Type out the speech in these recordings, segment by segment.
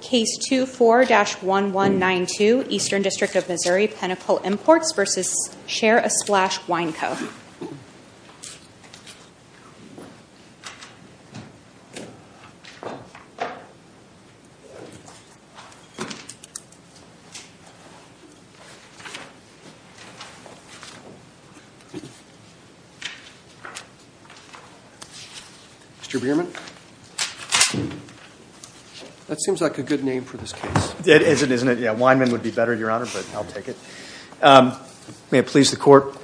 Case 24-1192, Eastern District of Missouri, Pinnacle Imports v. Share A Splash Wine Co. Mr. Bierman? That seems like a good name for this case. It is, isn't it? Yeah, Wineman would be better, Your Honor, but I'll take it. May it please the Court,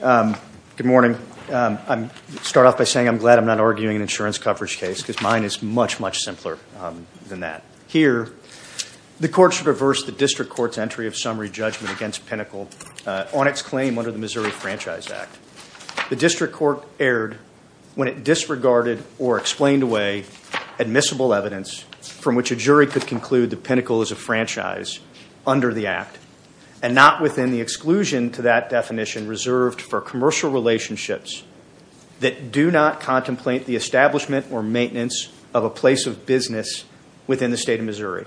good morning. I'll start off by saying I'm glad I'm not arguing an insurance coverage case because mine is much, much simpler than that. Here, the Court should reverse the District Court's entry of summary judgment against Pinnacle on its claim under the Missouri Franchise Act. The District Court erred when it disregarded or explained away admissible evidence from which a jury could conclude that Pinnacle is a franchise under the Act and not within the exclusion to that definition reserved for commercial relationships that do not contemplate the establishment or maintenance of a place of business within the State of Missouri.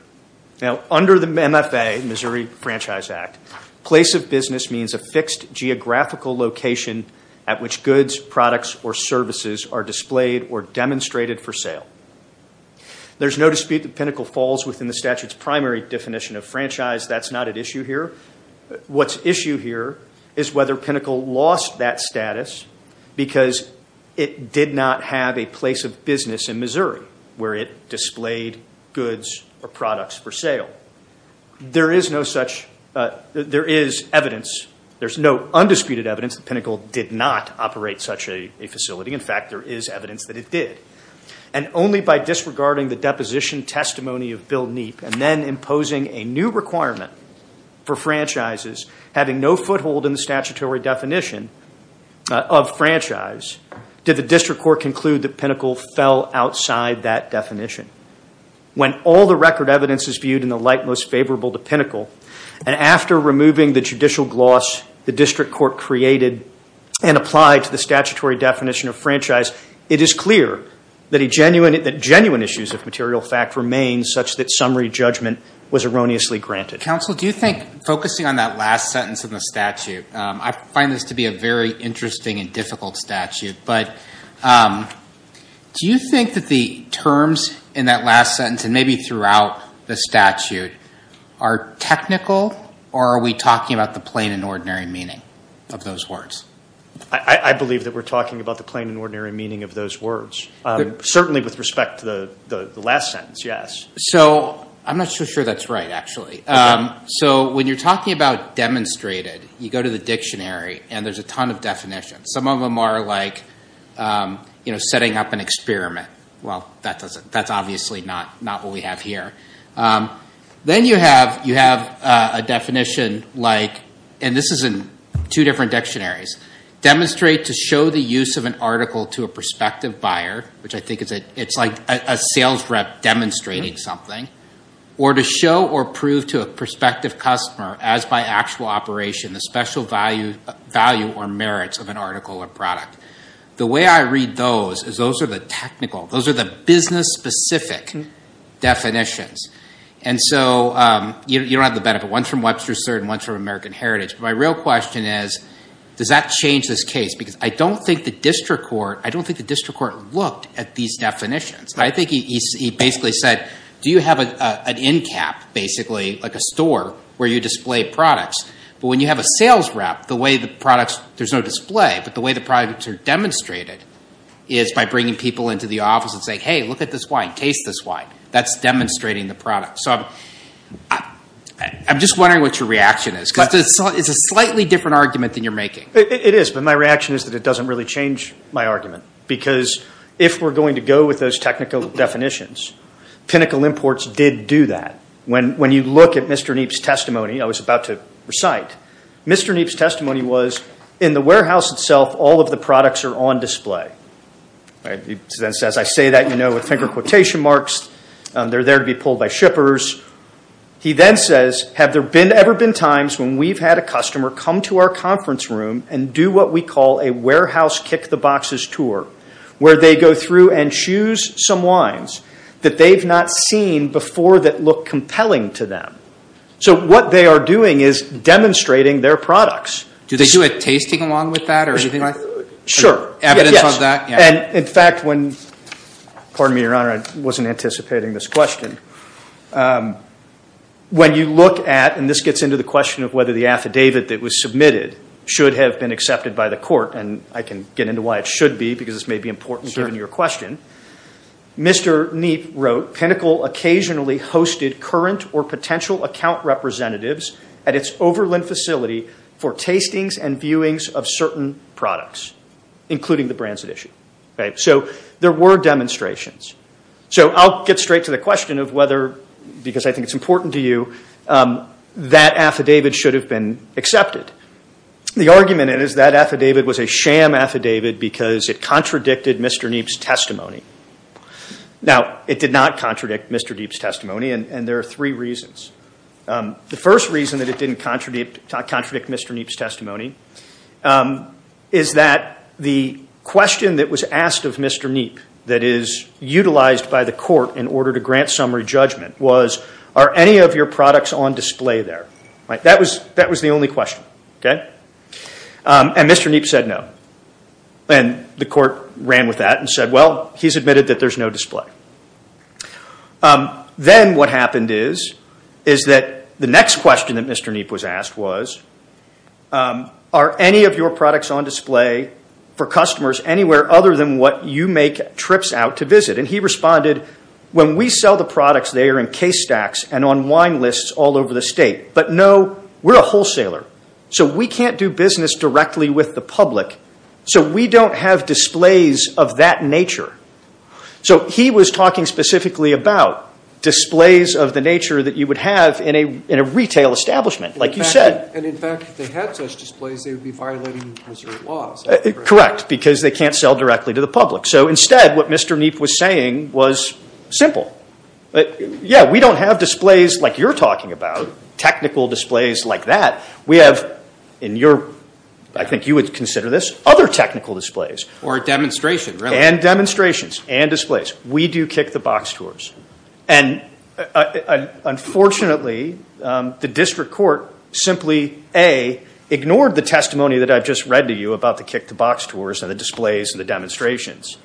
Now, under the MFA, Missouri Franchise Act, place of business means a fixed geographical location at which goods, products, or services are displayed or demonstrated for sale. There's no dispute that Pinnacle falls within the statute's primary definition of franchise. That's not at issue here. What's at issue here is whether Pinnacle lost that status because it did not have a place of business in Missouri where it displayed goods or products for sale. There is evidence. There's no undisputed evidence that Pinnacle did not operate such a facility. In fact, there is evidence that it did. And only by disregarding the deposition testimony of Bill Neep and then imposing a new requirement for franchises having no foothold in the statutory definition of franchise did the district court conclude that Pinnacle fell outside that definition. When all the record evidence is viewed in the light most favorable to Pinnacle, and after removing the judicial gloss the district court created and applied to the statutory definition of franchise, it is clear that genuine issues of material fact remain such that summary judgment was erroneously granted. Counsel, do you think focusing on that last sentence of the statute, I find this to be a very interesting and difficult statute, but do you think that the terms in that last sentence and maybe throughout the statute are technical or are we talking about the plain and ordinary meaning of those words? I believe that we're talking about the plain and ordinary meaning of those words. Certainly with respect to the last sentence, yes. So I'm not so sure that's right, actually. So when you're talking about demonstrated, you go to the dictionary and there's a ton of definitions. Some of them are like setting up an experiment. Well, that's obviously not what we have here. Then you have a definition like, and this is in two different dictionaries, demonstrate to show the use of an article to a prospective buyer, which I think it's like a sales rep demonstrating something, or to show or prove to a prospective customer, as by actual operation, the special value or merits of an article or product. The way I read those is those are the technical, those are the business-specific definitions. And so you don't have the benefit. One's from Webster and one's from American Heritage. My real question is, does that change this case? Because I don't think the district court looked at these definitions. I think he basically said, do you have an in-cap, basically, like a store where you display products? But when you have a sales rep, the way the products, there's no display, but the way the products are demonstrated is by bringing people into the office and saying, hey, look at this wine, taste this wine. That's demonstrating the product. So I'm just wondering what your reaction is. Because it's a slightly different argument than you're making. It is, but my reaction is that it doesn't really change my argument. Because if we're going to go with those technical definitions, Pinnacle Imports did do that. When you look at Mr. Neap's testimony, I was about to recite, Mr. Neap's testimony was, in the warehouse itself, all of the products are on display. He then says, I say that, you know, with finger quotation marks. They're there to be pulled by shippers. He then says, have there ever been times when we've had a customer come to our conference room and do what we call a warehouse kick-the-boxes tour, where they go through and choose some wines that they've not seen before that look compelling to them. So what they are doing is demonstrating their products. Do they do a tasting along with that or anything like that? Sure. Evidence of that? Pardon me, Your Honor, I wasn't anticipating this question. When you look at, and this gets into the question of whether the affidavit that was submitted should have been accepted by the court, and I can get into why it should be, because this may be important given your question, Mr. Neap wrote, Pinnacle occasionally hosted current or potential account representatives at its Overland facility for tastings and viewings of certain products, including the brands at issue. So there were demonstrations. So I'll get straight to the question of whether, because I think it's important to you, that affidavit should have been accepted. The argument is that affidavit was a sham affidavit because it contradicted Mr. Neap's testimony. Now, it did not contradict Mr. Neap's testimony, and there are three reasons. The first reason that it didn't contradict Mr. Neap's testimony is that the question that was asked of Mr. Neap that is utilized by the court in order to grant summary judgment was, are any of your products on display there? That was the only question. And Mr. Neap said no. And the court ran with that and said, well, he's admitted that there's no display. Then what happened is that the next question that Mr. Neap was asked was, are any of your products on display for customers anywhere other than what you make trips out to visit? And he responded, when we sell the products, they are in case stacks and on wine lists all over the state. But no, we're a wholesaler. So we can't do business directly with the public. So we don't have displays of that nature. So he was talking specifically about displays of the nature that you would have in a retail establishment, like you said. And, in fact, if they had such displays, they would be violating Missouri laws. Correct, because they can't sell directly to the public. So instead, what Mr. Neap was saying was simple. Yeah, we don't have displays like you're talking about, technical displays like that. We have, in your, I think you would consider this, other technical displays. Or a demonstration, really. And demonstrations and displays. We do kick-the-box tours. And, unfortunately, the district court simply, A, ignored the testimony that I've just read to you about the kick-the-box tours and the displays and the demonstrations.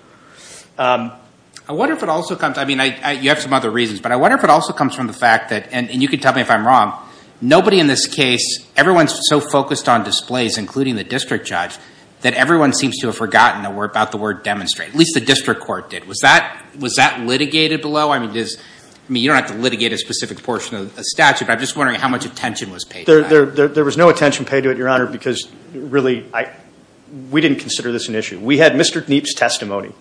I wonder if it also comes, I mean, you have some other reasons, but I wonder if it also comes from the fact that, and you can tell me if I'm wrong, nobody in this case, everyone's so focused on displays, including the district judge, that everyone seems to have forgotten about the word demonstrate. At least the district court did. Was that litigated below? I mean, you don't have to litigate a specific portion of the statute, but I'm just wondering how much attention was paid to that. There was no attention paid to it, Your Honor, because, really, we didn't consider this an issue. We had Mr. Neap's testimony.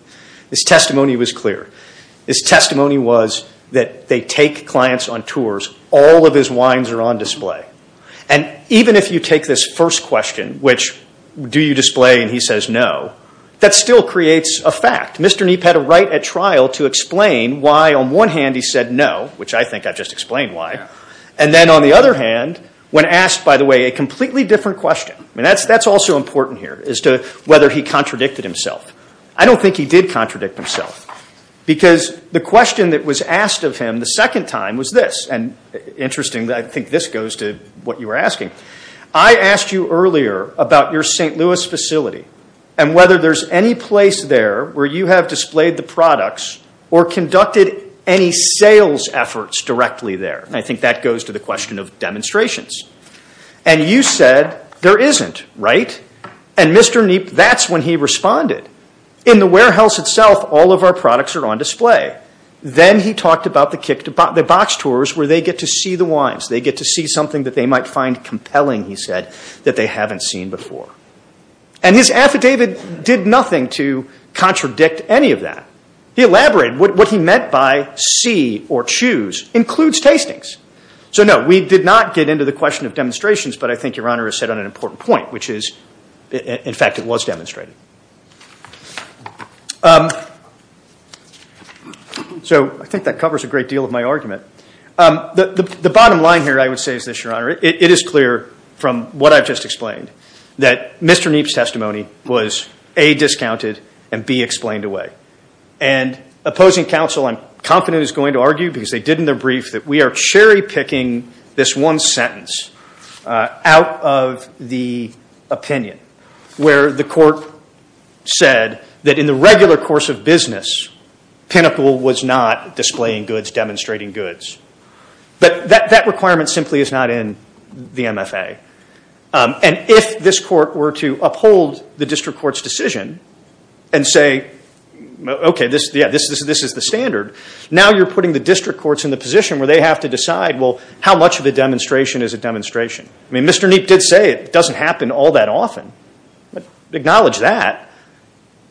His testimony was clear. His testimony was that they take clients on tours. All of his wines are on display. And even if you take this first question, which, do you display, and he says no, that still creates a fact. Mr. Neap had a right at trial to explain why, on one hand, he said no, which I think I've just explained why, and then, on the other hand, when asked, by the way, a completely different question. I mean, that's also important here as to whether he contradicted himself. I don't think he did contradict himself because the question that was asked of him the second time was this, and, interestingly, I think this goes to what you were asking. I asked you earlier about your St. Louis facility and whether there's any place there where you have displayed the products or conducted any sales efforts directly there. I think that goes to the question of demonstrations. And you said there isn't, right? And, Mr. Neap, that's when he responded. In the warehouse itself, all of our products are on display. Then he talked about the box tours where they get to see the wines. They get to see something that they might find compelling, he said, that they haven't seen before. And his affidavit did nothing to contradict any of that. He elaborated. What he meant by see or choose includes tastings. So, no, we did not get into the question of demonstrations, but I think Your Honor has said on an important point, which is, in fact, it was demonstrated. So I think that covers a great deal of my argument. The bottom line here, I would say, is this, Your Honor. It is clear from what I've just explained that Mr. Neap's testimony was, A, discounted, and, B, explained away. And opposing counsel, I'm confident, is going to argue, because they did in their brief, that we are cherry-picking this one sentence out of the opinion where the court said that in the regular course of business, Pinnacle was not displaying goods, demonstrating goods. But that requirement simply is not in the MFA. And if this court were to uphold the district court's decision and say, okay, this is the standard, now you're putting the district courts in the position where they have to decide, well, how much of a demonstration is a demonstration? I mean, Mr. Neap did say it doesn't happen all that often. Acknowledge that.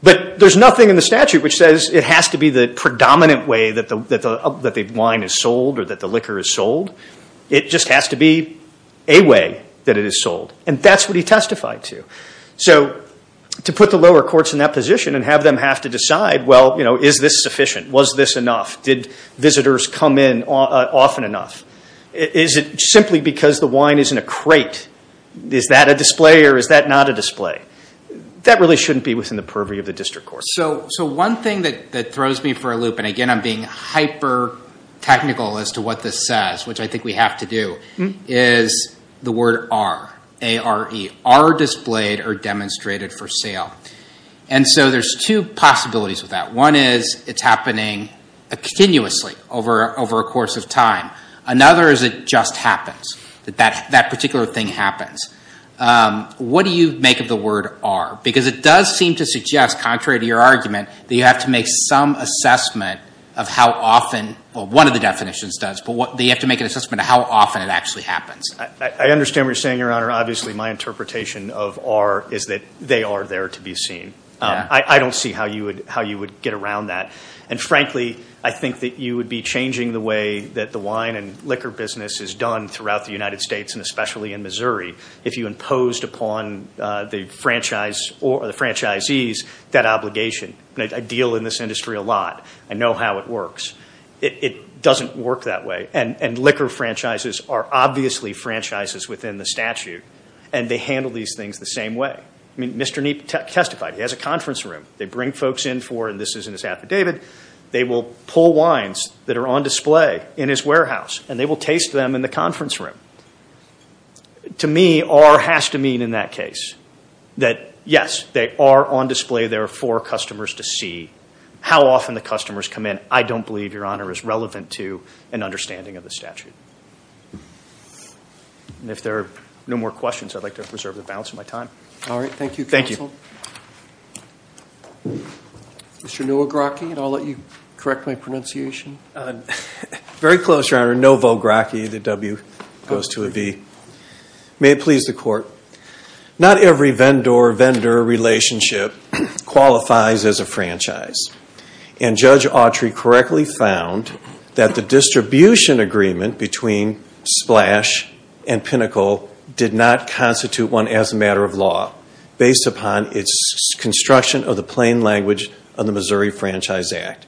But there's nothing in the statute which says it has to be the predominant way that the wine is sold or that the liquor is sold. It just has to be a way that it is sold. And that's what he testified to. So to put the lower courts in that position and have them have to decide, well, is this sufficient? Was this enough? Did visitors come in often enough? Is it simply because the wine is in a crate? Is that a display or is that not a display? That really shouldn't be within the purview of the district court. So one thing that throws me for a loop, and, again, I'm being hyper-technical as to what this says, which I think we have to do, is the word are, A-R-E, are displayed or demonstrated for sale. And so there's two possibilities with that. One is it's happening continuously over a course of time. Another is it just happens, that that particular thing happens. What do you make of the word are? Because it does seem to suggest, contrary to your argument, that you have to make some assessment of how often, well, one of the definitions does, but you have to make an assessment of how often it actually happens. I understand what you're saying, Your Honor. Obviously my interpretation of are is that they are there to be seen. I don't see how you would get around that. And, frankly, I think that you would be changing the way that the wine and liquor business is done throughout the United States, and especially in Missouri, if you imposed upon the franchisees that obligation. I deal in this industry a lot. I know how it works. It doesn't work that way. And liquor franchises are obviously franchises within the statute, and they handle these things the same way. I mean, Mr. Neap testified. He has a conference room. They bring folks in for, and this is in his affidavit, they will pull wines that are on display in his warehouse, and they will taste them in the conference room. To me, are has to mean in that case that, yes, they are on display there for customers to see how often the customers come in. I don't believe, Your Honor, is relevant to an understanding of the statute. And if there are no more questions, I'd like to preserve the balance of my time. All right. Thank you, Counsel. Thank you. Mr. Novogratki, and I'll let you correct my pronunciation. Very close, Your Honor. Novogratki, the W goes to a V. May it please the Court. Not every vendor-vendor relationship qualifies as a franchise, and Judge Autry correctly found that the distribution agreement between Splash and Pinnacle did not constitute one as a matter of law based upon its construction of the plain language of the Missouri Franchise Act.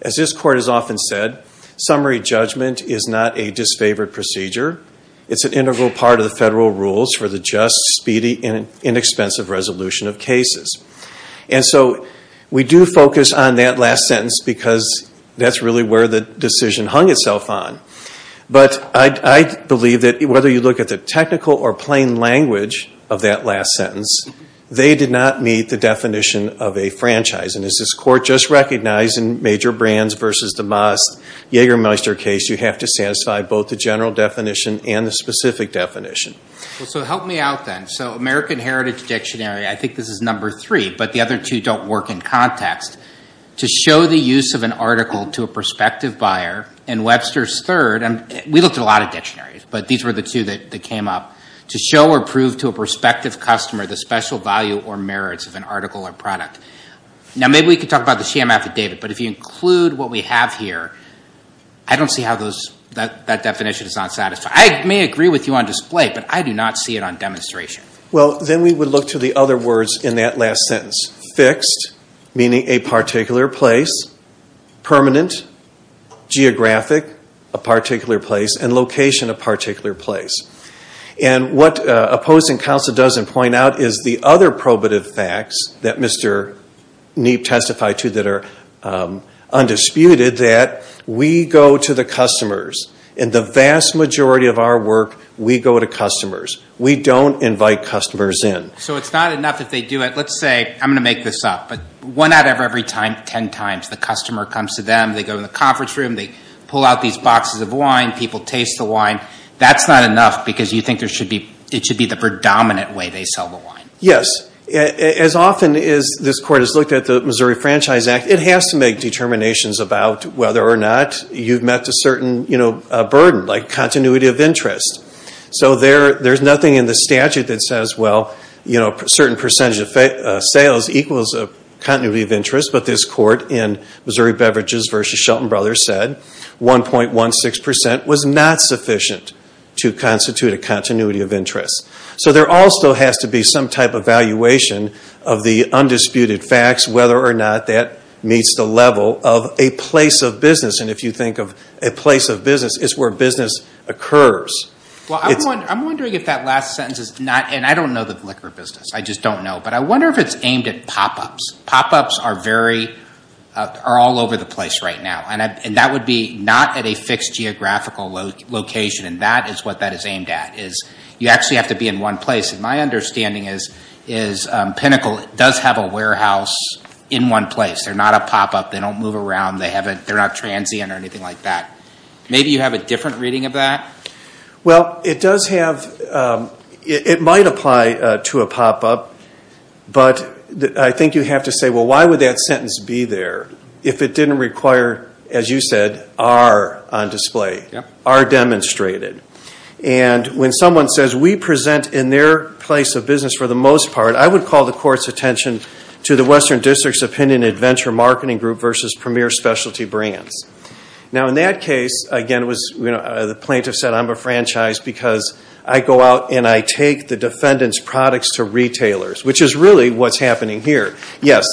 As this Court has often said, summary judgment is not a disfavored procedure. It's an integral part of the federal rules for the just, speedy, and inexpensive resolution of cases. And so we do focus on that last sentence because that's really where the decision hung itself on. But I believe that whether you look at the technical or plain language of that last sentence, they did not meet the definition of a franchise. And as this Court just recognized in Major Brands v. DeMoss' Jägermeister case, you have to satisfy both the general definition and the specific definition. Well, so help me out then. So American Heritage Dictionary, I think this is number three, but the other two don't work in context. To show the use of an article to a prospective buyer in Webster's third, and we looked at a lot of dictionaries, but these were the two that came up, to show or prove to a prospective customer the special value or merits of an article or product. Now maybe we could talk about the sham affidavit, but if you include what we have here, I don't see how that definition is not satisfied. I may agree with you on display, but I do not see it on demonstration. Well, then we would look to the other words in that last sentence. Fixed, meaning a particular place. Permanent, geographic, a particular place. And location, a particular place. And what opposing counsel doesn't point out is the other probative facts that Mr. Neap testified to that are undisputed, that we go to the customers. In the vast majority of our work, we go to customers. We don't invite customers in. So it's not enough if they do it, let's say, I'm going to make this up, but one out of every ten times the customer comes to them, they go to the conference room, they pull out these boxes of wine, people taste the wine. That's not enough because you think it should be the predominant way they sell the wine. Yes. As often as this Court has looked at the Missouri Franchise Act, it has to make determinations about whether or not you've met a certain burden, like continuity of interest. So there's nothing in the statute that says, well, a certain percentage of sales equals a continuity of interest, but this Court in Missouri Beverages v. Shelton Brothers said 1.16% was not sufficient to constitute a continuity of interest. So there also has to be some type of valuation of the undisputed facts, whether or not that meets the level of a place of business. And if you think of a place of business, it's where business occurs. Well, I'm wondering if that last sentence is not, and I don't know the liquor business, I just don't know, but I wonder if it's aimed at pop-ups. Pop-ups are all over the place right now, and that would be not at a fixed geographical location, and that is what that is aimed at, is you actually have to be in one place. And my understanding is Pinnacle does have a warehouse in one place. They're not a pop-up. They don't move around. They're not transient or anything like that. Maybe you have a different reading of that? Well, it might apply to a pop-up, but I think you have to say, well, why would that sentence be there if it didn't require, as you said, R on display, R demonstrated. And when someone says we present in their place of business for the most part, I would call the Court's attention to the Western District's opinion at Venture Marketing Group versus Premier Specialty Brands. Now, in that case, again, the plaintiff said, I'm a franchise because I go out and I take the defendant's products to retailers, which is really what's happening here. Yes,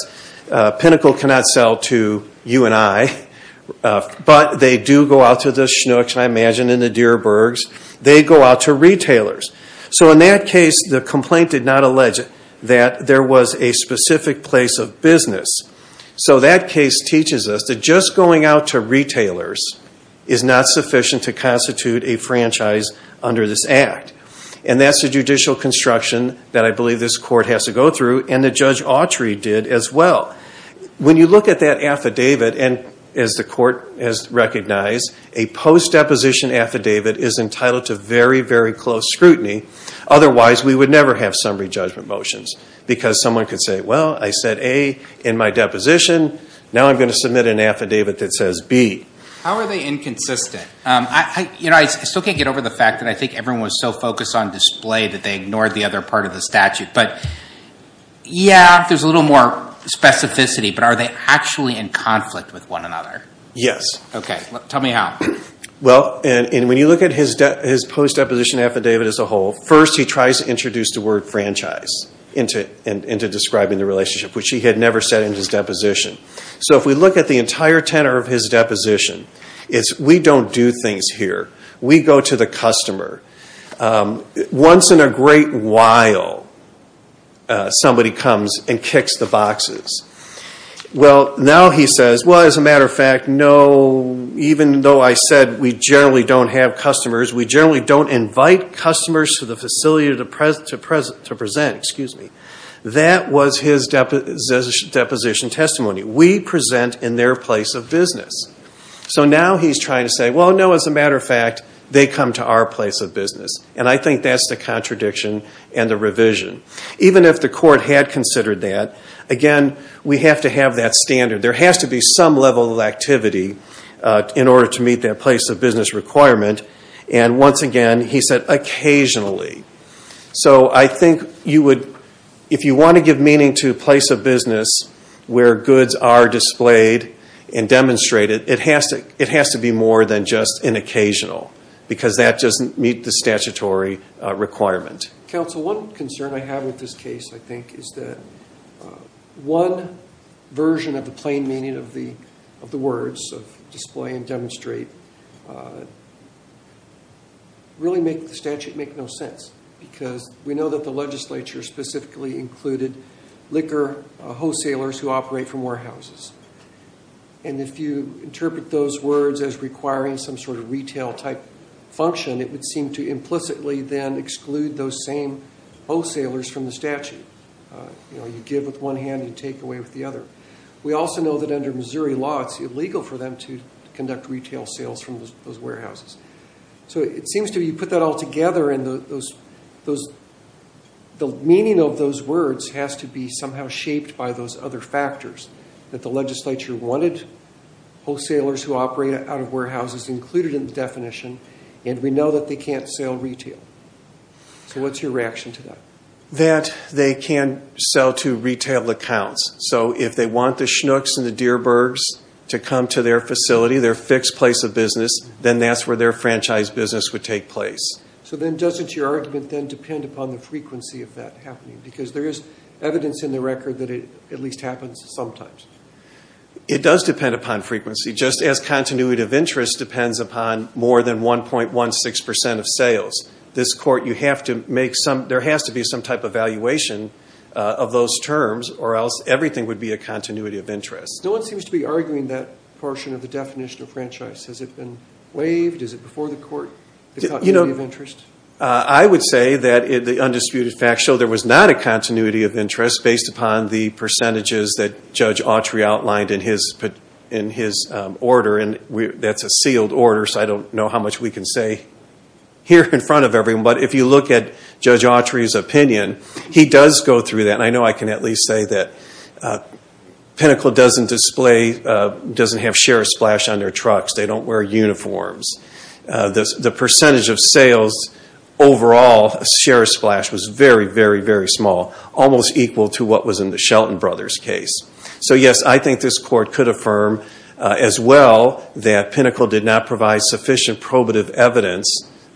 Pinnacle cannot sell to you and I, but they do go out to the Schnucks, I imagine, and the Dierbergs. They go out to retailers. So in that case, the complaint did not allege that there was a specific place of business. So that case teaches us that just going out to retailers is not sufficient to constitute a franchise under this Act. And that's the judicial construction that I believe this Court has to go through and that Judge Autry did as well. When you look at that affidavit, and as the Court has recognized, a post-deposition affidavit is entitled to very, very close scrutiny. Otherwise, we would never have summary judgment motions because someone could say, well, I said A in my deposition, now I'm going to submit an affidavit that says B. How are they inconsistent? I still can't get over the fact that I think everyone was so focused on display that they ignored the other part of the statute. But, yeah, there's a little more specificity, but are they actually in conflict with one another? Yes. Okay, tell me how. Well, when you look at his post-deposition affidavit as a whole, first he tries to introduce the word franchise into describing the relationship, which he had never said in his deposition. So if we look at the entire tenor of his deposition, it's we don't do things here. We go to the customer. Once in a great while, somebody comes and kicks the boxes. Well, now he says, well, as a matter of fact, no, even though I said we generally don't have customers, we generally don't invite customers to the facility to present. That was his deposition testimony. We present in their place of business. So now he's trying to say, well, no, as a matter of fact, they come to our place of business. And I think that's the contradiction and the revision. Even if the court had considered that, again, we have to have that standard. There has to be some level of activity in order to meet that place of business requirement. And once again, he said occasionally. So I think if you want to give meaning to a place of business where goods are displayed and demonstrated, it has to be more than just an occasional because that doesn't meet the statutory requirement. Counsel, one concern I have with this case, I think, is that one version of the plain meaning of the words of display and demonstrate really make the statute make no sense. Because we know that the legislature specifically included liquor wholesalers who operate from warehouses. And if you interpret those words as requiring some sort of retail type function, it would seem to implicitly then exclude those same wholesalers from the statute. You know, you give with one hand, you take away with the other. We also know that under Missouri law, it's illegal for them to conduct retail sales from those warehouses. So it seems to be you put that all together and the meaning of those words has to be somehow shaped by those other factors, that the legislature wanted wholesalers who operate out of warehouses included in the definition. And we know that they can't sell retail. So what's your reaction to that? That they can't sell to retail accounts. So if they want the Schnucks and the Deerbergs to come to their facility, their fixed place of business, then that's where their franchise business would take place. So then doesn't your argument then depend upon the frequency of that happening? Because there is evidence in the record that it at least happens sometimes. It does depend upon frequency. Just as continuity of interest depends upon more than 1.16% of sales. This court, you have to make some, there has to be some type of valuation of those terms or else everything would be a continuity of interest. No one seems to be arguing that portion of the definition of franchise. Has it been waived? Is it before the court? You know, I would say that the undisputed facts show there was not a continuity of interest based upon the percentages that Judge Autry outlined in his order. And that's a sealed order, so I don't know how much we can say here in front of everyone. But if you look at Judge Autry's opinion, he does go through that. And I know I can at least say that Pinnacle doesn't display, doesn't have share splash on their trucks. They don't wear uniforms. The percentage of sales overall, share splash, was very, very, very small. Almost equal to what was in the Shelton Brothers case. So yes, I think this court could affirm as well that Pinnacle did not provide sufficient probative evidence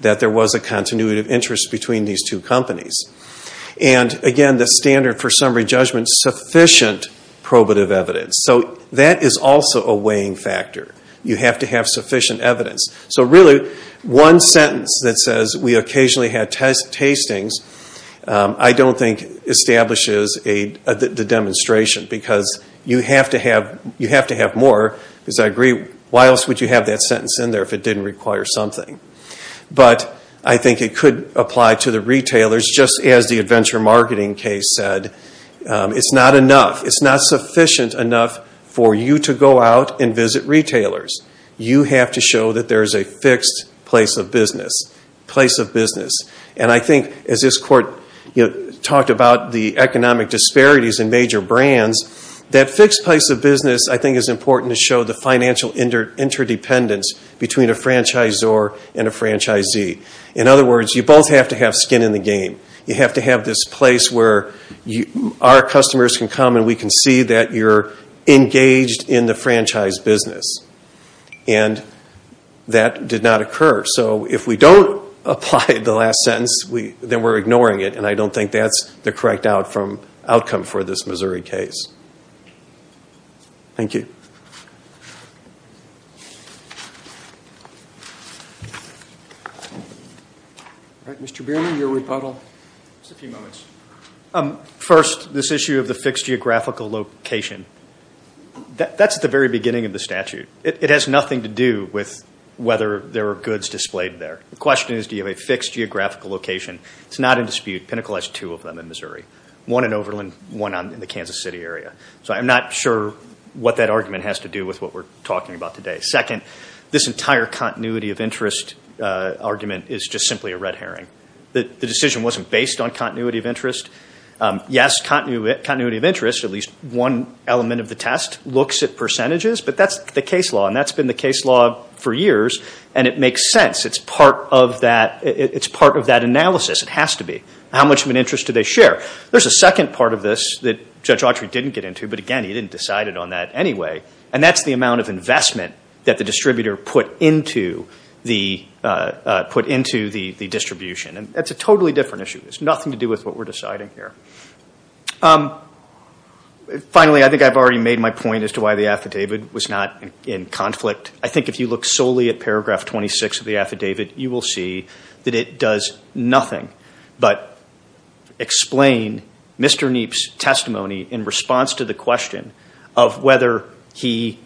that there was a continuity of interest between these two companies. And again, the standard for summary judgment, sufficient probative evidence. So that is also a weighing factor. You have to have sufficient evidence. So really, one sentence that says, we occasionally had tastings, I don't think establishes the demonstration. Because you have to have more, because I agree, why else would you have that sentence in there if it didn't require something? But I think it could apply to the retailers, just as the Adventure Marketing case said. It's not enough. It's not sufficient enough for you to go out and visit retailers. You have to show that there is a fixed place of business. And I think, as this court talked about the economic disparities in major brands, that fixed place of business I think is important to show the financial interdependence between a franchisor and a franchisee. In other words, you both have to have skin in the game. You have to have this place where our customers can come and we can see that you're engaged in the franchise business. And that did not occur. So if we don't apply the last sentence, then we're ignoring it. And I don't think that's the correct outcome for this Missouri case. Thank you. All right, Mr. Bierman, your rebuttal. Just a few moments. First, this issue of the fixed geographical location. That's at the very beginning of the statute. It has nothing to do with whether there are goods displayed there. The question is do you have a fixed geographical location. It's not in dispute. Pinnacle has two of them in Missouri, one in Overland, one in the Kansas City area. So I'm not sure what that argument has to do with what we're talking about today. Second, this entire continuity of interest argument is just simply a red herring. The decision wasn't based on continuity of interest. Yes, continuity of interest, at least one element of the test, looks at percentages, but that's the case law, and that's been the case law for years, and it makes sense. It's part of that analysis. It has to be. How much of an interest do they share? There's a second part of this that Judge Autry didn't get into, but, again, he didn't decide it on that anyway, and that's the amount of investment that the distributor put into the distribution. That's a totally different issue. It has nothing to do with what we're deciding here. Finally, I think I've already made my point as to why the affidavit was not in conflict. I think if you look solely at paragraph 26 of the affidavit, you will see that it does nothing but explain Mr. Kniep's testimony in response to the question that was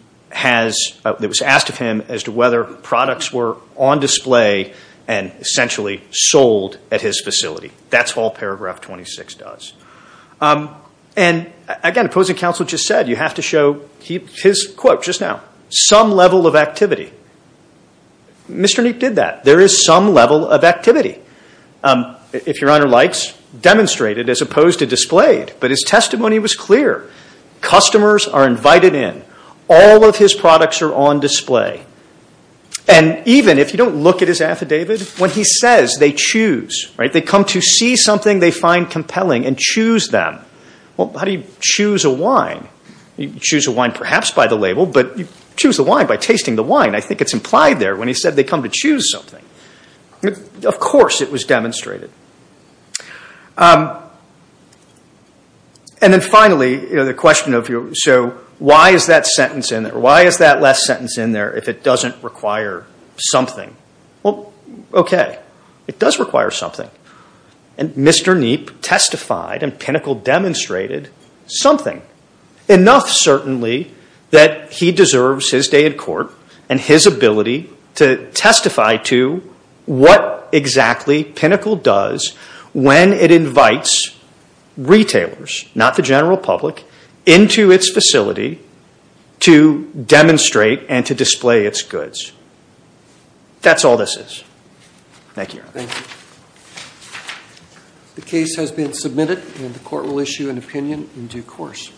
asked of him as to whether products were on display and essentially sold at his facility. That's all paragraph 26 does. And, again, opposing counsel just said you have to show his quote just now, some level of activity. Mr. Kniep did that. There is some level of activity. If Your Honor likes, demonstrated as opposed to displayed. But his testimony was clear. Customers are invited in. All of his products are on display. And even if you don't look at his affidavit, when he says they choose, right, they come to see something they find compelling and choose them. Well, how do you choose a wine? You choose a wine perhaps by the label, but you choose the wine by tasting the wine. I think it's implied there when he said they come to choose something. Of course it was demonstrated. And then finally, the question of, so why is that sentence in there? Why is that last sentence in there if it doesn't require something? Well, okay, it does require something. And Mr. Kniep testified and Pinnacle demonstrated something, enough certainly that he deserves his day in court and his ability to testify to what exactly Pinnacle does when it invites retailers, not the general public, into its facility to demonstrate and to display its goods. That's all this is. Thank you, Your Honor. Thank you. The case has been submitted and the court will issue an opinion in due course.